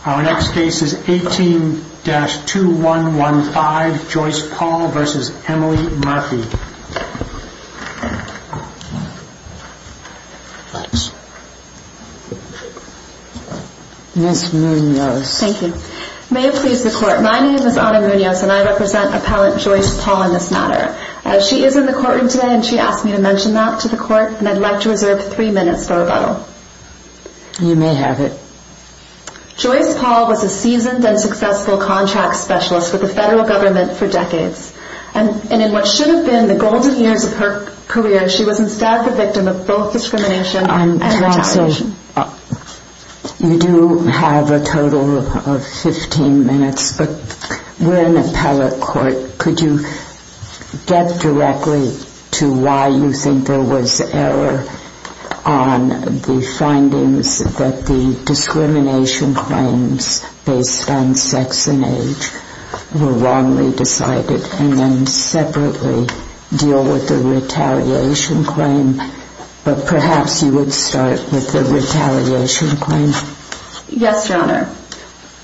18-2115 Joyce Paul v. Emily Murphy May it please the Court, my name is Anna Munoz and I represent Appellant Joyce Paul in this matter. She is in the courtroom today and she asked me to mention that to the Court and I'd like to reserve three minutes for rebuttal. You may have it. Joyce Paul was a seasoned and successful contract specialist with the Federal Government for decades. And in what should have been the golden years of her career, she was instead the victim of both discrimination and retaliation. You do have a total of 15 minutes, but we're in appellate court. Could you get directly to why you think there was error on the findings that the discrimination claims based on sex and age were wrongly decided? And then separately deal with the retaliation claim. But perhaps you would start with the retaliation claim. Yes, Your Honor.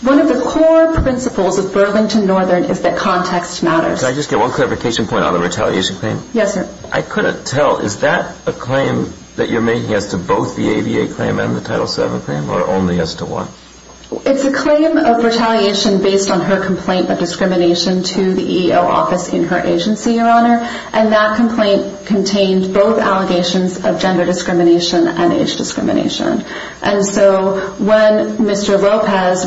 One of the core principles of Burlington Northern is that context matters. Can I just get one clarification point on the retaliation claim? Yes, sir. I couldn't tell. Is that a claim that you're making as to both the ADA claim and the Title VII claim or only as to one? It's a claim of retaliation based on her complaint of discrimination to the EEO office in her agency, Your Honor. And that complaint contained both allegations of gender discrimination and age discrimination. And so when Mr. Lopez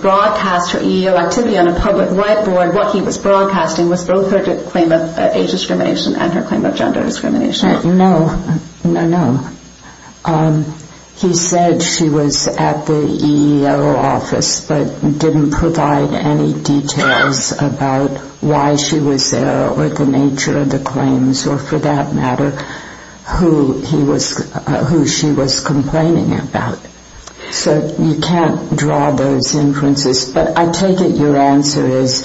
broadcast her EEO activity on a public whiteboard, what he was broadcasting was both her claim of age discrimination and her claim of gender discrimination. No, no, no. He said she was at the EEO office but didn't provide any details about why she was there or the nature of the claims or, for that matter, who she was complaining about. So you can't draw those inferences. But I take it your answer is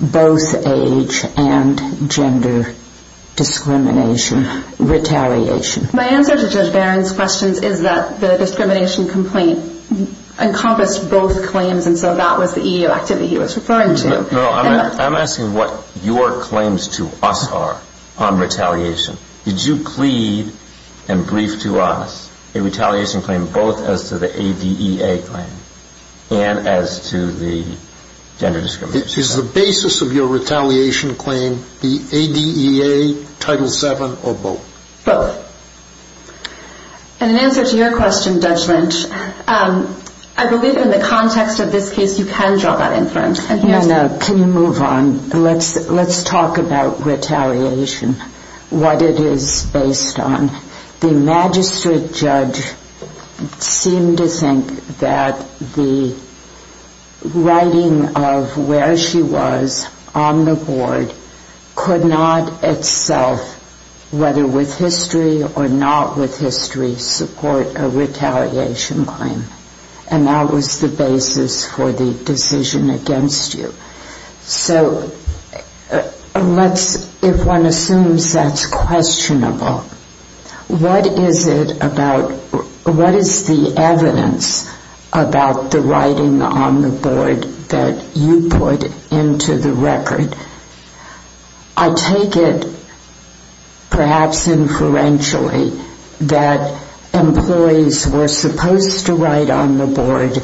both age and gender discrimination, retaliation. My answer to Judge Barron's questions is that the discrimination complaint encompassed both claims, and so that was the EEO activity he was referring to. No, I'm asking what your claims to us are on retaliation. Did you plead and brief to us a retaliation claim both as to the ADEA claim and as to the gender discrimination claim? Is the basis of your retaliation claim the ADEA, Title VII, or both? Both. And in answer to your question, Judge Lynch, I believe in the context of this case you can draw that inference. Can you move on? Let's talk about retaliation, what it is based on. The magistrate judge seemed to think that the writing of where she was on the board could not itself, whether with history or not with history, support a retaliation claim. And that was the basis for the decision against you. So let's, if one assumes that's questionable, what is it about, what is the evidence about the writing on the board that you put into the record? I take it, perhaps inferentially, that employees were supposed to write on the board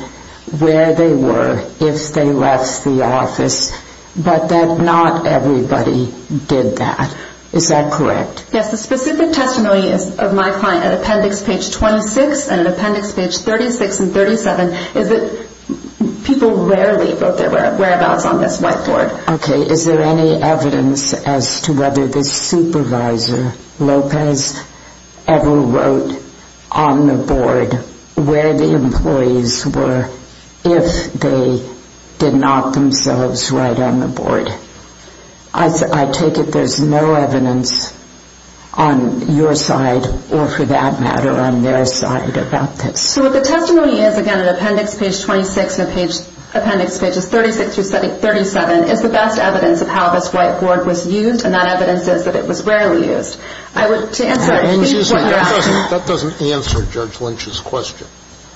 where they were if they left the office, but that not everybody did that. Is that correct? Yes, the specific testimony of my client at Appendix Page 26 and Appendix Page 36 and 37 is that people rarely wrote their whereabouts on this whiteboard. Okay. Is there any evidence as to whether the supervisor, Lopez, ever wrote on the board where the employees were if they did not themselves write on the board? I take it there's no evidence on your side or, for that matter, on their side about this. So what the testimony is, again, at Appendix Page 26 and Appendix Pages 36 through 37, is the best evidence of how this whiteboard was used, and that evidence is that it was rarely used. That doesn't answer Judge Lynch's question.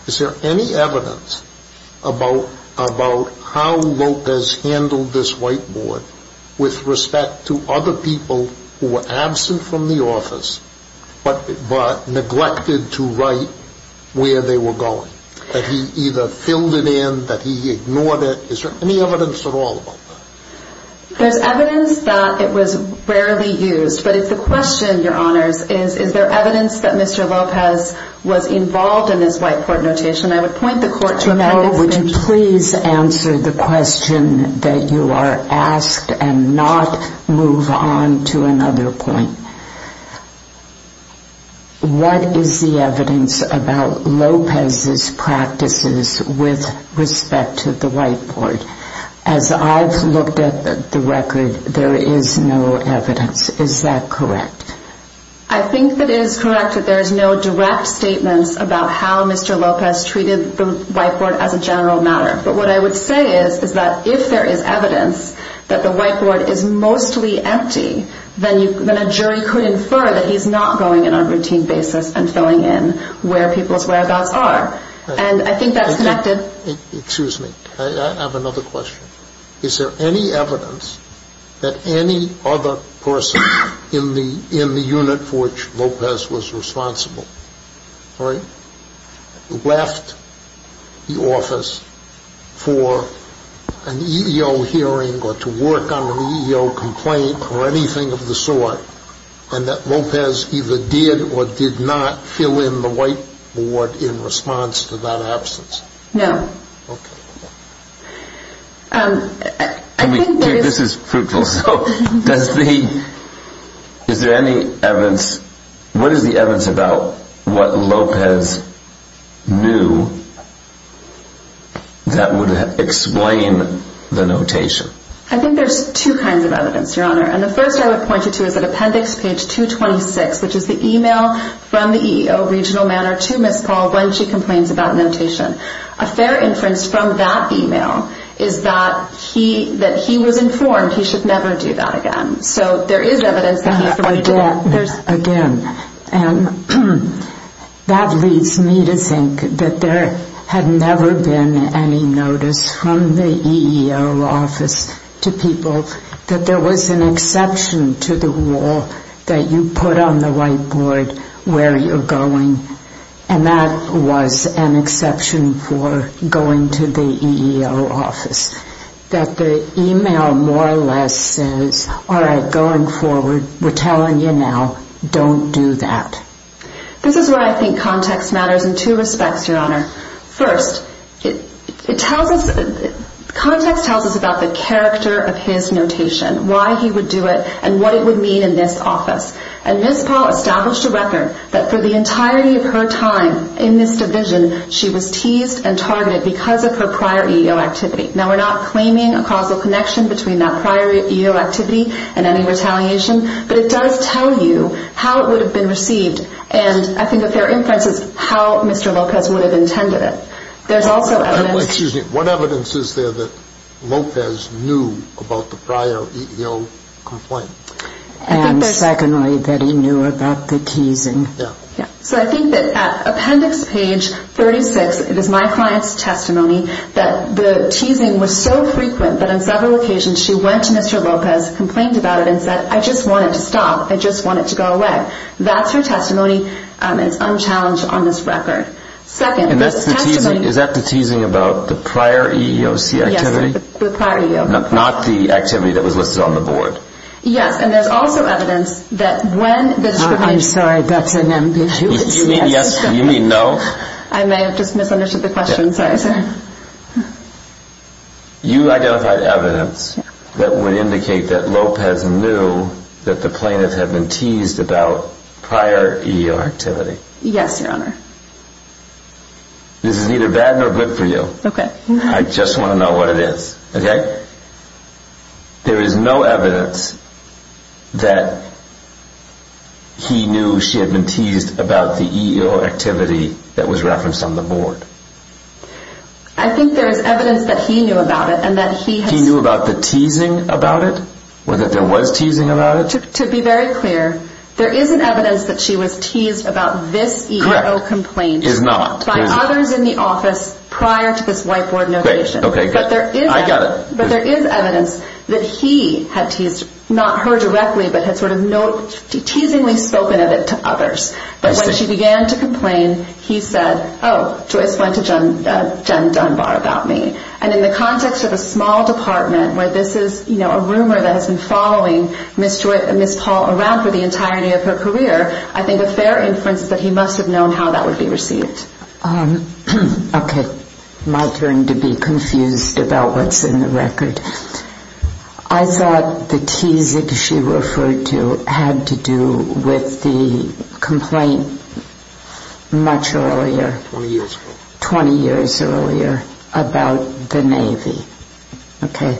Is there any evidence about how Lopez handled this whiteboard with respect to other people who were absent from the office but neglected to write where they were going? That he either filled it in, that he ignored it? Is there any evidence at all about that? There's evidence that it was rarely used, but if the question, Your Honors, is, is there evidence that Mr. Lopez was involved in this whiteboard notation, I would point the court to Appendix Page. Well, would you please answer the question that you are asked and not move on to another point? What is the evidence about Lopez's practices with respect to the whiteboard? As I've looked at the record, there is no evidence. Is that correct? I think that it is correct that there is no direct statements about how Mr. Lopez treated the whiteboard as a general matter. But what I would say is that if there is evidence that the whiteboard is mostly empty, then a jury could infer that he's not going in on a routine basis and filling in where people's whereabouts are. And I think that's connected. Excuse me. I have another question. Is there any evidence that any other person in the unit for which Lopez was responsible left the office for an EEO hearing or to work on an EEO complaint or anything of the sort, and that Lopez either did or did not fill in the whiteboard in response to that absence? No. This is fruitful. Is there any evidence? What is the evidence about what Lopez knew that would explain the notation? I think there's two kinds of evidence, Your Honor. And the first I would point you to is at appendix page 226, which is the email from the EEO regional matter to Ms. Paul when she complains about notation. A fair inference from that email is that he was informed he should never do that again. So there is evidence that he fully did it. Again, that leads me to think that there had never been any notice from the EEO office to people that there was an exception to the rule that you put on the whiteboard where you're going, and that was an exception for going to the EEO office. That the email more or less says, all right, going forward, we're telling you now, don't do that. This is where I think context matters in two respects, Your Honor. First, context tells us about the character of his notation, why he would do it, and what it would mean in this office. And Ms. Paul established a record that for the entirety of her time in this division, she was teased and targeted because of her prior EEO activity. Now, we're not claiming a causal connection between that prior EEO activity and any retaliation, but it does tell you how it would have been received. And I think a fair inference is how Mr. Lopez would have intended it. Excuse me, what evidence is there that Lopez knew about the prior EEO complaint? And secondly, that he knew about the teasing. So I think that at appendix page 36, it is my client's testimony, that the teasing was so frequent that on several occasions she went to Mr. Lopez, complained about it, and said, I just want it to stop. I just want it to go away. That's her testimony, and it's unchallenged on this record. Is that the teasing about the prior EEOC activity? Yes, the prior EEOC. Not the activity that was listed on the board? Yes, and there's also evidence that when the discrimination... I'm sorry, that's an ambiguity. You mean yes, you mean no? I may have just misunderstood the question. Sorry, sir. You identified evidence that would indicate that Lopez knew that the plaintiff had been teased about prior EEO activity? Yes, Your Honor. This is neither bad nor good for you. Okay. I just want to know what it is, okay? There is no evidence that he knew she had been teased about the EEO activity that was referenced on the board. I think there is evidence that he knew about it, and that he... He knew about the teasing about it? Or that there was teasing about it? To be very clear, there is evidence that she was teased about this EEO complaint by others in the office prior to this white board notification. Okay, I got it. But there is evidence that he had teased, not her directly, but had sort of teasingly spoken of it to others. But when she began to complain, he said, oh, Joyce went to Jen Dunbar about me. And in the context of a small department where this is a rumor that has been following Ms. Paul around for the entirety of her career, I think a fair inference is that he must have known how that would be received. Okay. My turn to be confused about what's in the record. I thought the teasing she referred to had to do with the complaint much earlier. 20 years ago. 20 years earlier about the Navy. Okay.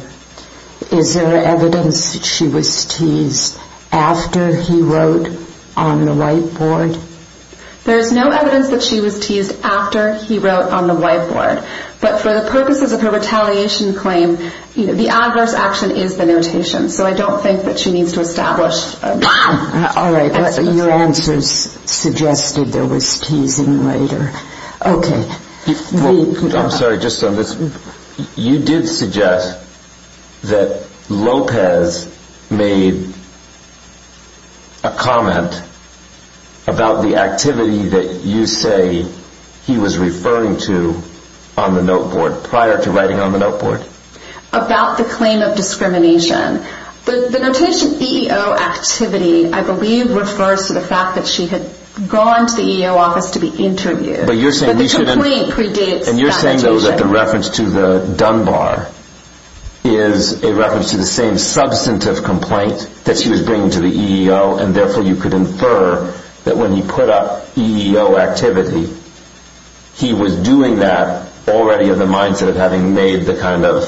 Is there evidence that she was teased after he wrote on the white board? There is no evidence that she was teased after he wrote on the white board. But for the purposes of her retaliation claim, the adverse action is the notation. So I don't think that she needs to establish... All right. Your answers suggested there was teasing later. Okay. I'm sorry, just on this. You did suggest that Lopez made a comment about the activity that you say he was referring to on the note board prior to writing on the note board. About the claim of discrimination. But the notation EEO activity I believe refers to the fact that she had gone to the EEO office to be interviewed. But you're saying... But the complaint predates that notation. And you're saying though that the reference to the Dunbar is a reference to the same substantive complaint that she was bringing to the EEO and therefore you could infer that when he put up EEO activity, he was doing that already in the mindset of having made the kind of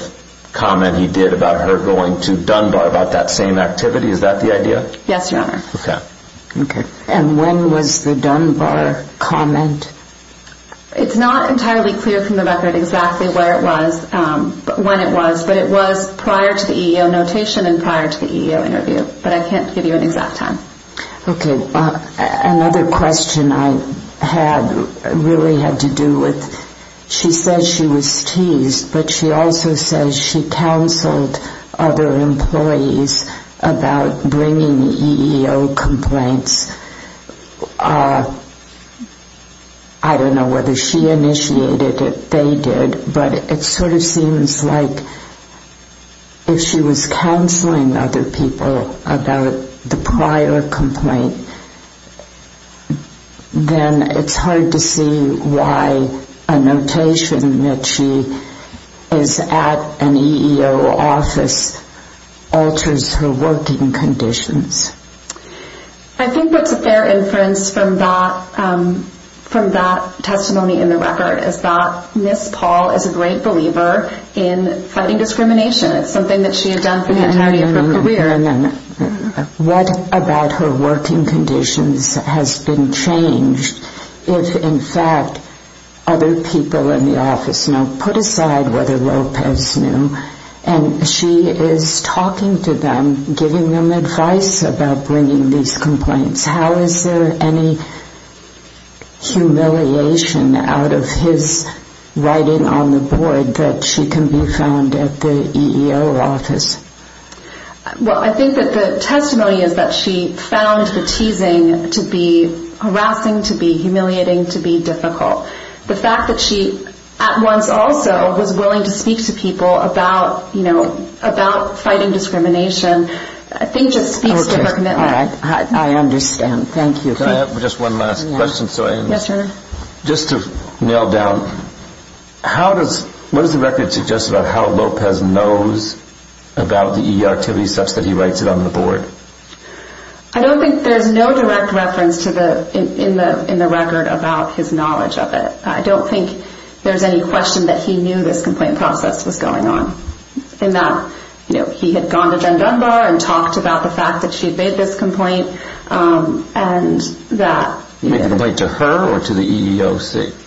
comment he did about her going to Dunbar about that same activity. Is that the idea? Yes, Your Honor. Okay. And when was the Dunbar comment? It's not entirely clear from the record exactly where it was, when it was, but it was prior to the EEO notation and prior to the EEO interview. But I can't give you an exact time. Okay. Another question I had really had to do with she says she was teased, but she also says she counseled other employees about bringing EEO complaints. I don't know whether she initiated it, they did, but it sort of seems like if she was counseling other people about the prior complaint, then it's hard to see why a notation that she is at an EEO office alters her working conditions. I think what's a fair inference from that testimony in the record is that Ms. Paul is a great believer in fighting discrimination. It's something that she had done for the entirety of her career. What about her working conditions has been changed if, in fact, other people in the office put aside whether Lopez knew and she is talking to them, giving them advice about bringing these complaints. How is there any humiliation out of his writing on the board that she can be found at the EEO office? Well, I think that the testimony is that she found the teasing to be harassing, to be humiliating, to be difficult. The fact that she at once also was willing to speak to people about fighting discrimination, I think just speaks to her commitment. I understand. Thank you. Can I have just one last question? Yes, sir. Just to nail down, what does the record suggest about how Lopez knows about the EEO activities such that he writes it on the board? I don't think there's no direct reference in the record about his knowledge of it. I don't think there's any question that he knew this complaint process was going on, in that he had gone to Jen Dunbar and talked about the fact that she had made this complaint. Made a complaint to her or to the EEOC?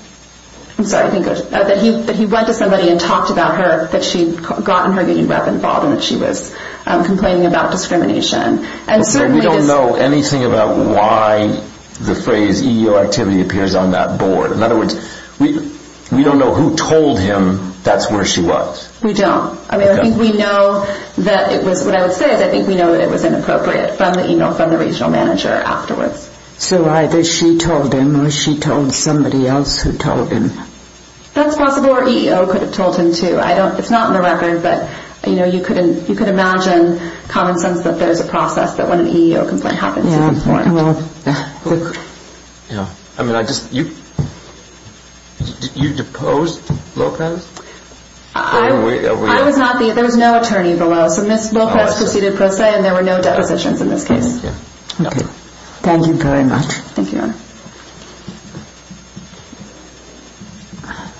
I'm sorry. That he went to somebody and talked about her, that she had gotten her union rep involved and that she was complaining about discrimination. We don't know anything about why the phrase EEO activity appears on that board. In other words, we don't know who told him that's where she was. We don't. I mean, I think we know that it was, what I would say is, I think we know that it was inappropriate from the email from the regional manager afterwards. So either she told him or she told somebody else who told him. That's possible, or EEO could have told him too. It's not in the record, but you could imagine common sense that there's a process that when an EEO complaint happens, it's important. I mean, I just, you deposed Lopez? I was not the, there was no attorney below. So Ms. Lopez proceeded per se and there were no depositions in this case. Thank you very much. Thank you, Your Honor.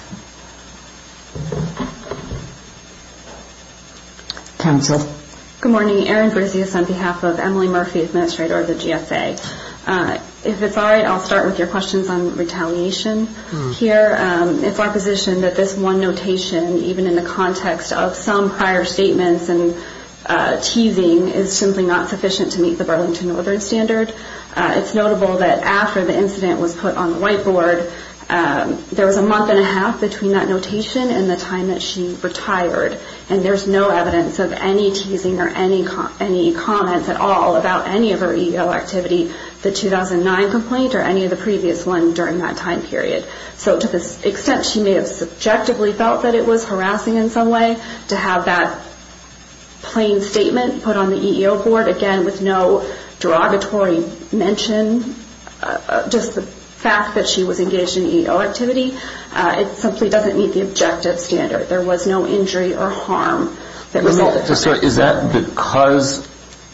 Counsel. Good morning. Erin Berzius on behalf of Emily Murphy, administrator of the GSA. If it's all right, I'll start with your questions on retaliation here. It's our position that this one notation, even in the context of some prior statements and teasing, is simply not sufficient to meet the Burlington Northern standard. It's notable that after the incident was put on the white board, there was a month and a half between that notation and the time that she retired. And there's no evidence of any teasing or any comments at all about any of her EEO activity, the 2009 complaint or any of the previous one during that time period. So to the extent she may have subjectively felt that it was harassing in some way, to have that plain statement put on the EEO board, again, with no derogatory mention, just the fact that she was engaged in EEO activity, it simply doesn't meet the objective standard. There was no injury or harm that resulted from it. So is that because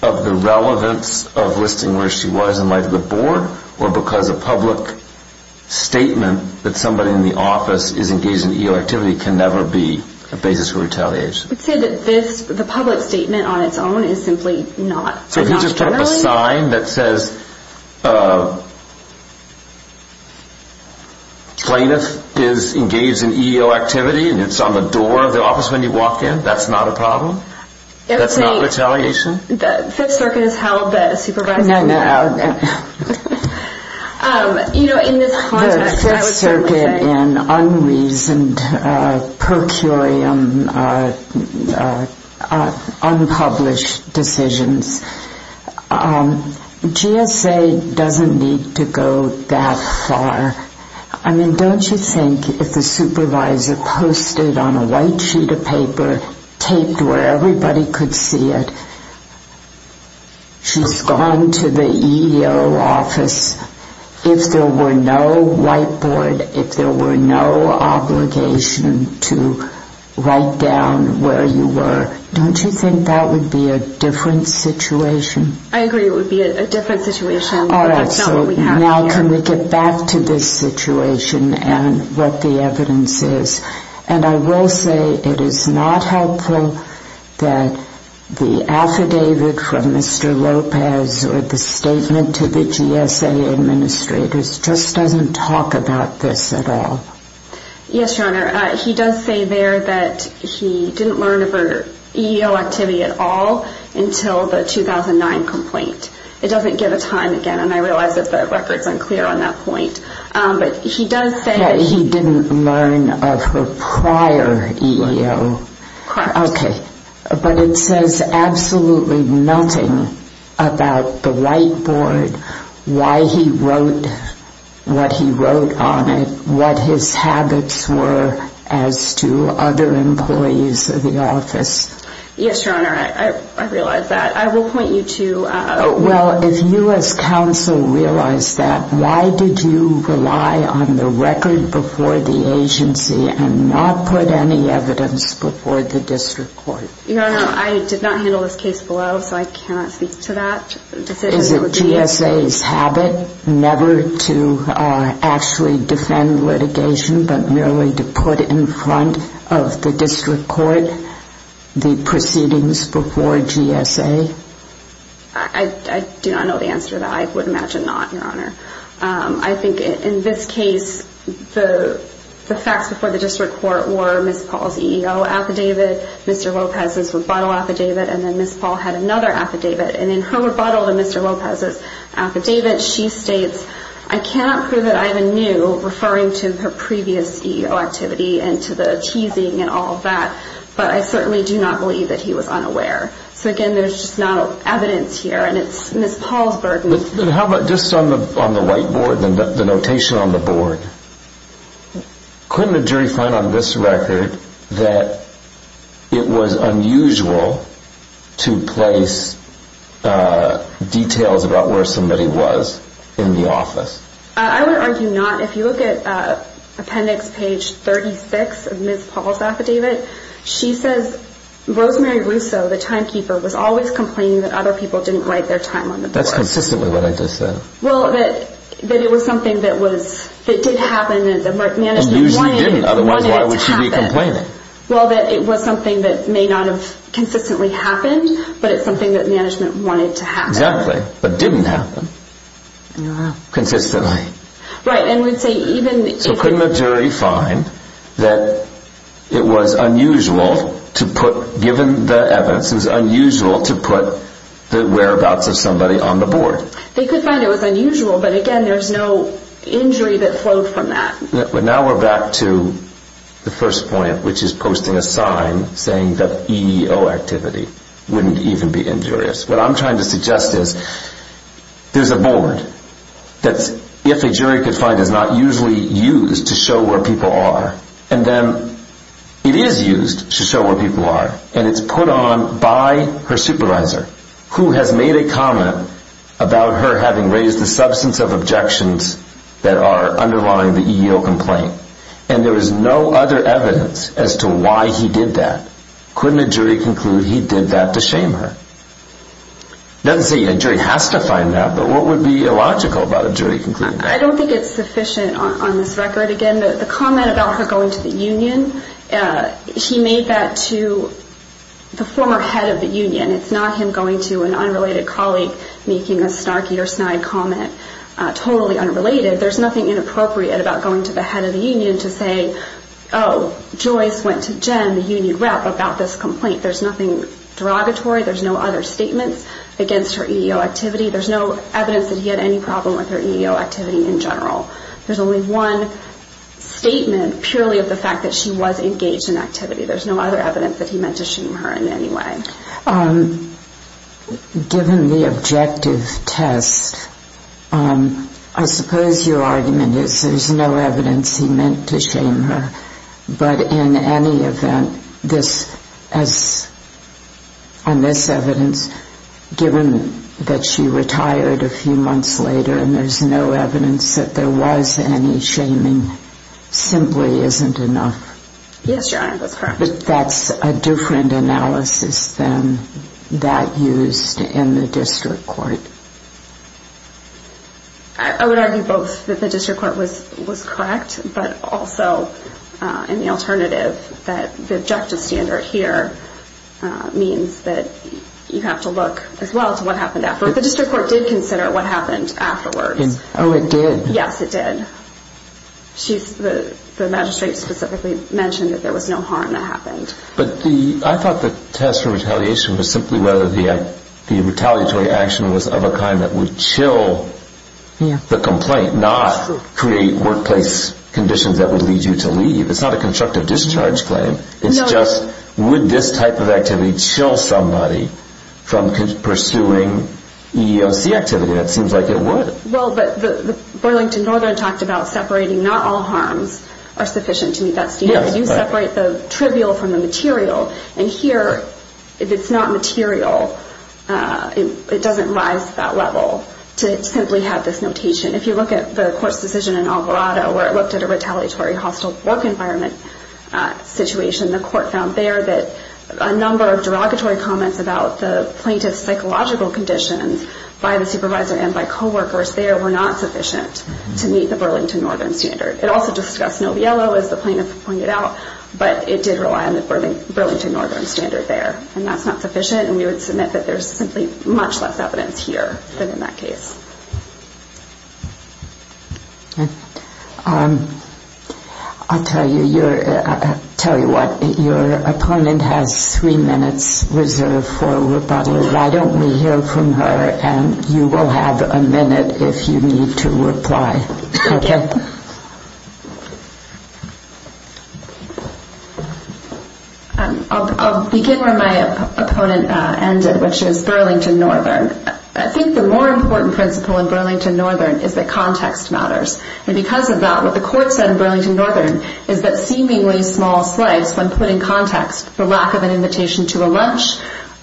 of the relevance of listing where she was in light of the board or because a public statement that somebody in the office is engaged in EEO activity can never be a basis for retaliation? I'd say that this, the public statement on its own, is simply not generally. So if you just put up a sign that says plaintiff is engaged in EEO activity and it's on the door of the office when you walk in, that's not a problem? That's not retaliation? The Fifth Circuit has held that supervising the board. No, no. You know, in this context, I would simply say. in unreasoned, per curiam, unpublished decisions. GSA doesn't need to go that far. I mean, don't you think if the supervisor posted on a white sheet of paper, taped where everybody could see it, she's gone to the EEO office. If there were no white board, if there were no obligation to write down where you were, don't you think that would be a different situation? I agree it would be a different situation. All right, so now can we get back to this situation and what the evidence is? And I will say it is not helpful that the affidavit from Mr. Lopez or the statement to the GSA administrators just doesn't talk about this at all. Yes, Your Honor. He does say there that he didn't learn of her EEO activity at all until the 2009 complaint. It doesn't give a time again, and I realize that the record is unclear on that point. But he does say that he didn't learn of her prior EEO. Correct. Okay, but it says absolutely nothing about the white board, why he wrote what he wrote on it, what his habits were as to other employees of the office. Yes, Your Honor, I realize that. I will point you to— Well, if you as counsel realize that, why did you rely on the record before the agency and not put any evidence before the district court? Your Honor, I did not handle this case below, so I cannot speak to that. Is it GSA's habit never to actually defend litigation but merely to put in front of the district court the proceedings before GSA? I do not know the answer to that. I would imagine not, Your Honor. I think in this case, the facts before the district court were Ms. Paul's EEO affidavit, Mr. Lopez's rebuttal affidavit, and then Ms. Paul had another affidavit. And in her rebuttal to Mr. Lopez's affidavit, she states, I cannot prove that Ivan knew, referring to her previous EEO activity and to the teasing and all of that, but I certainly do not believe that he was unaware. So again, there's just not evidence here, and it's Ms. Paul's burden. How about just on the whiteboard, the notation on the board? Couldn't a jury find on this record that it was unusual to place details about where somebody was in the office? I would argue not. If you look at appendix page 36 of Ms. Paul's affidavit, she says, Rosemary Russo, the timekeeper, was always complaining that other people didn't write their time on the board. That's consistently what I just said. Well, that it was something that did happen and that management wanted it to happen. Usually didn't, otherwise why would she be complaining? Well, that it was something that may not have consistently happened, but it's something that management wanted to happen. Exactly, but didn't happen. Wow. Consistently. Right, and we'd say even if... They could find it was unusual, but again, there's no injury that flowed from that. Now we're back to the first point, which is posting a sign saying that EEO activity wouldn't even be injurious. What I'm trying to suggest is there's a board that if a jury could find is not usually used to show where people are, and then it is used to show where people are, and it's put on by her supervisor, who has made a comment about her having raised the substance of objections that are underlying the EEO complaint, and there is no other evidence as to why he did that. Couldn't a jury conclude he did that to shame her? It doesn't say a jury has to find that, but what would be illogical about a jury concluding that? I don't think it's sufficient on this record. Again, the comment about her going to the union, she made that to the former head of the union. It's not him going to an unrelated colleague making a snarky or snide comment, totally unrelated. There's nothing inappropriate about going to the head of the union to say, oh, Joyce went to Jen, the union rep, about this complaint. There's nothing derogatory. There's no other statements against her EEO activity. There's no evidence that he had any problem with her EEO activity in general. There's only one statement purely of the fact that she was engaged in activity. There's no other evidence that he meant to shame her in any way. Given the objective test, I suppose your argument is there's no evidence he meant to shame her, but in any event, on this evidence, given that she retired a few months later and there's no evidence that there was any shaming, simply isn't enough. Yes, Your Honor, that's correct. But that's a different analysis than that used in the district court. I would argue both that the district court was correct, but also in the alternative that the objective standard here means that you have to look as well to what happened afterwards. The district court did consider what happened afterwards. Oh, it did? Yes, it did. The magistrate specifically mentioned that there was no harm that happened. But I thought the test for retaliation was simply whether the retaliatory action was of a kind that would chill the complaint, not create workplace conditions that would lead you to leave. It's not a constructive discharge claim. It's just, would this type of activity chill somebody from pursuing EEOC activity? It seems like it would. Well, but Boylington Northern talked about separating not all harms are sufficient to meet that standard. You separate the trivial from the material. And here, if it's not material, it doesn't rise to that level to simply have this notation. If you look at the court's decision in Alvarado where it looked at a retaliatory hostile work environment situation, the court found there that a number of derogatory comments about the plaintiff's psychological conditions by the supervisor and by coworkers there were not sufficient to meet the Burlington Northern standard. It also discussed Noviello, as the plaintiff pointed out, but it did rely on the Burlington Northern standard there. And that's not sufficient. And we would submit that there's simply much less evidence here than in that case. I'll tell you what. Your opponent has three minutes reserved for rebuttal. Why don't we hear from her, and you will have a minute if you need to reply. Okay? I'll begin where my opponent ended, which is Burlington Northern. I think the more important principle in Burlington Northern is that context matters. And because of that, what the court said in Burlington Northern is that seemingly small slides, when put in context, the lack of an invitation to a lunch,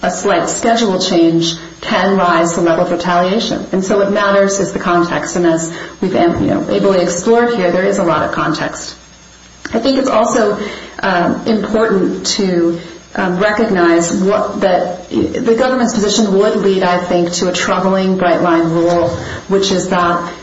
a slight schedule change, can rise the level of retaliation. And so it matters is the context. And as we've ably explored here, there is a lot of context. I think it's also important to recognize that the government's position would lead, I think, to a troubling bright-line rule, which is that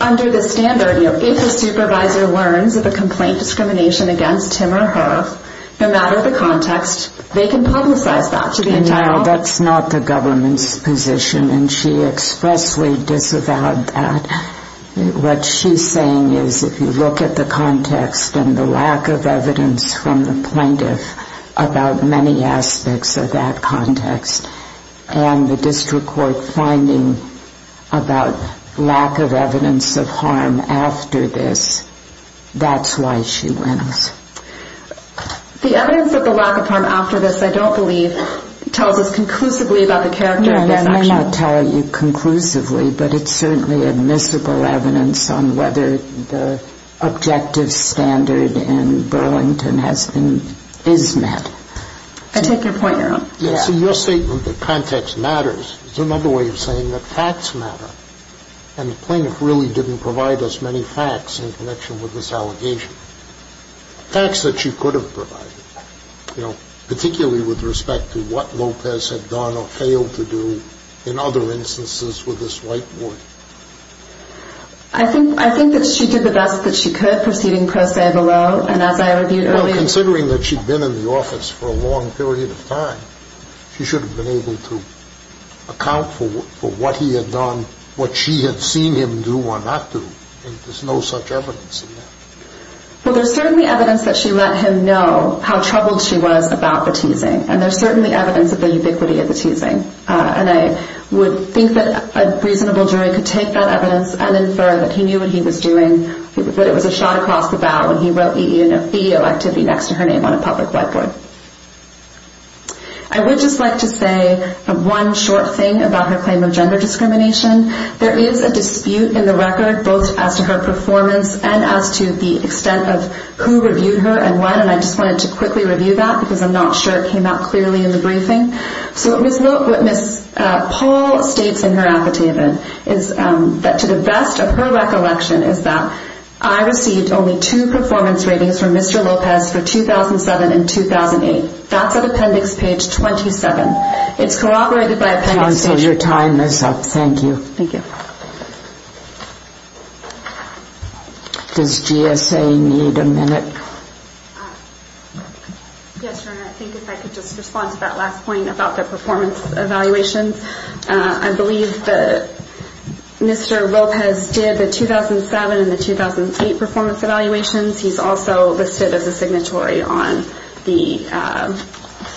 under the standard, you know, if a supervisor learns of a complaint discrimination against him or her, no matter the context, they can publicize that to the entire court. That's not the government's position, and she expressly disavowed that. What she's saying is if you look at the context and the lack of evidence from the plaintiff about many aspects of that context, and the district court finding about lack of evidence of harm after this, that's why she wins. The evidence of the lack of harm after this, I don't believe, tells us conclusively about the character of this action. No, I'm not telling you conclusively, but it's certainly admissible evidence on whether the objective standard in Burlington has been, is met. I take your point, Your Honor. So your statement that context matters is another way of saying that facts matter. And the plaintiff really didn't provide us many facts in connection with this allegation, facts that she could have provided, you know, particularly with respect to what Lopez had done or failed to do in other instances with this whiteboard. I think that she did the best that she could, proceeding per se below, and as I reviewed earlier. Well, considering that she'd been in the office for a long period of time, she should have been able to account for what he had done, what she had seen him do or not do, and there's no such evidence in that. Well, there's certainly evidence that she let him know how troubled she was about the teasing, and there's certainly evidence of the ubiquity of the teasing. And I would think that a reasonable jury could take that evidence and infer that he knew what he was doing, that it was a shot across the bow when he wrote EEO activity next to her name on a public whiteboard. I would just like to say one short thing about her claim of gender discrimination. There is a dispute in the record both as to her performance and as to the extent of who reviewed her and when, and I just wanted to quickly review that because I'm not sure it came out clearly in the briefing. So what Ms. Paul states in her affidavit is that to the best of her recollection is that I received only two performance ratings from Mr. Lopez for 2007 and 2008. That's at appendix page 27. It's corroborated by appendix page 27. Counsel, your time is up. Thank you. Thank you. Does GSA need a minute? Yes, Your Honor. I think if I could just respond to that last point about the performance evaluations. I believe that Mr. Lopez did the 2007 and the 2008 performance evaluations. He's also listed as a signatory on the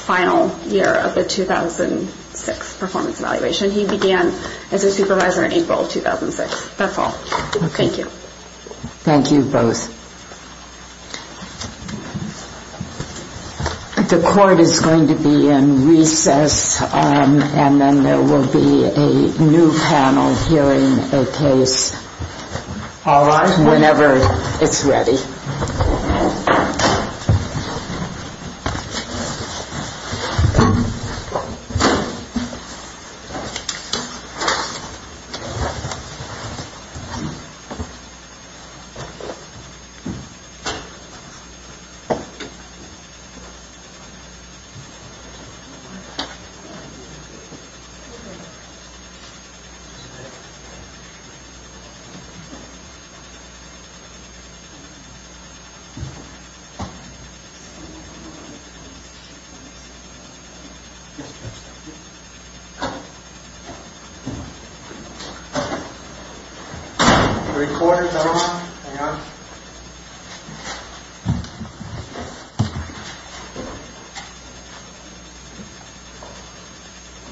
final year of the 2006 performance evaluation. He began as a supervisor in April of 2006. That's all. Thank you. Thank you both. The court is going to be in recess and then there will be a new panel hearing a case whenever it's ready. The recorder is on. Hang on. Thank you.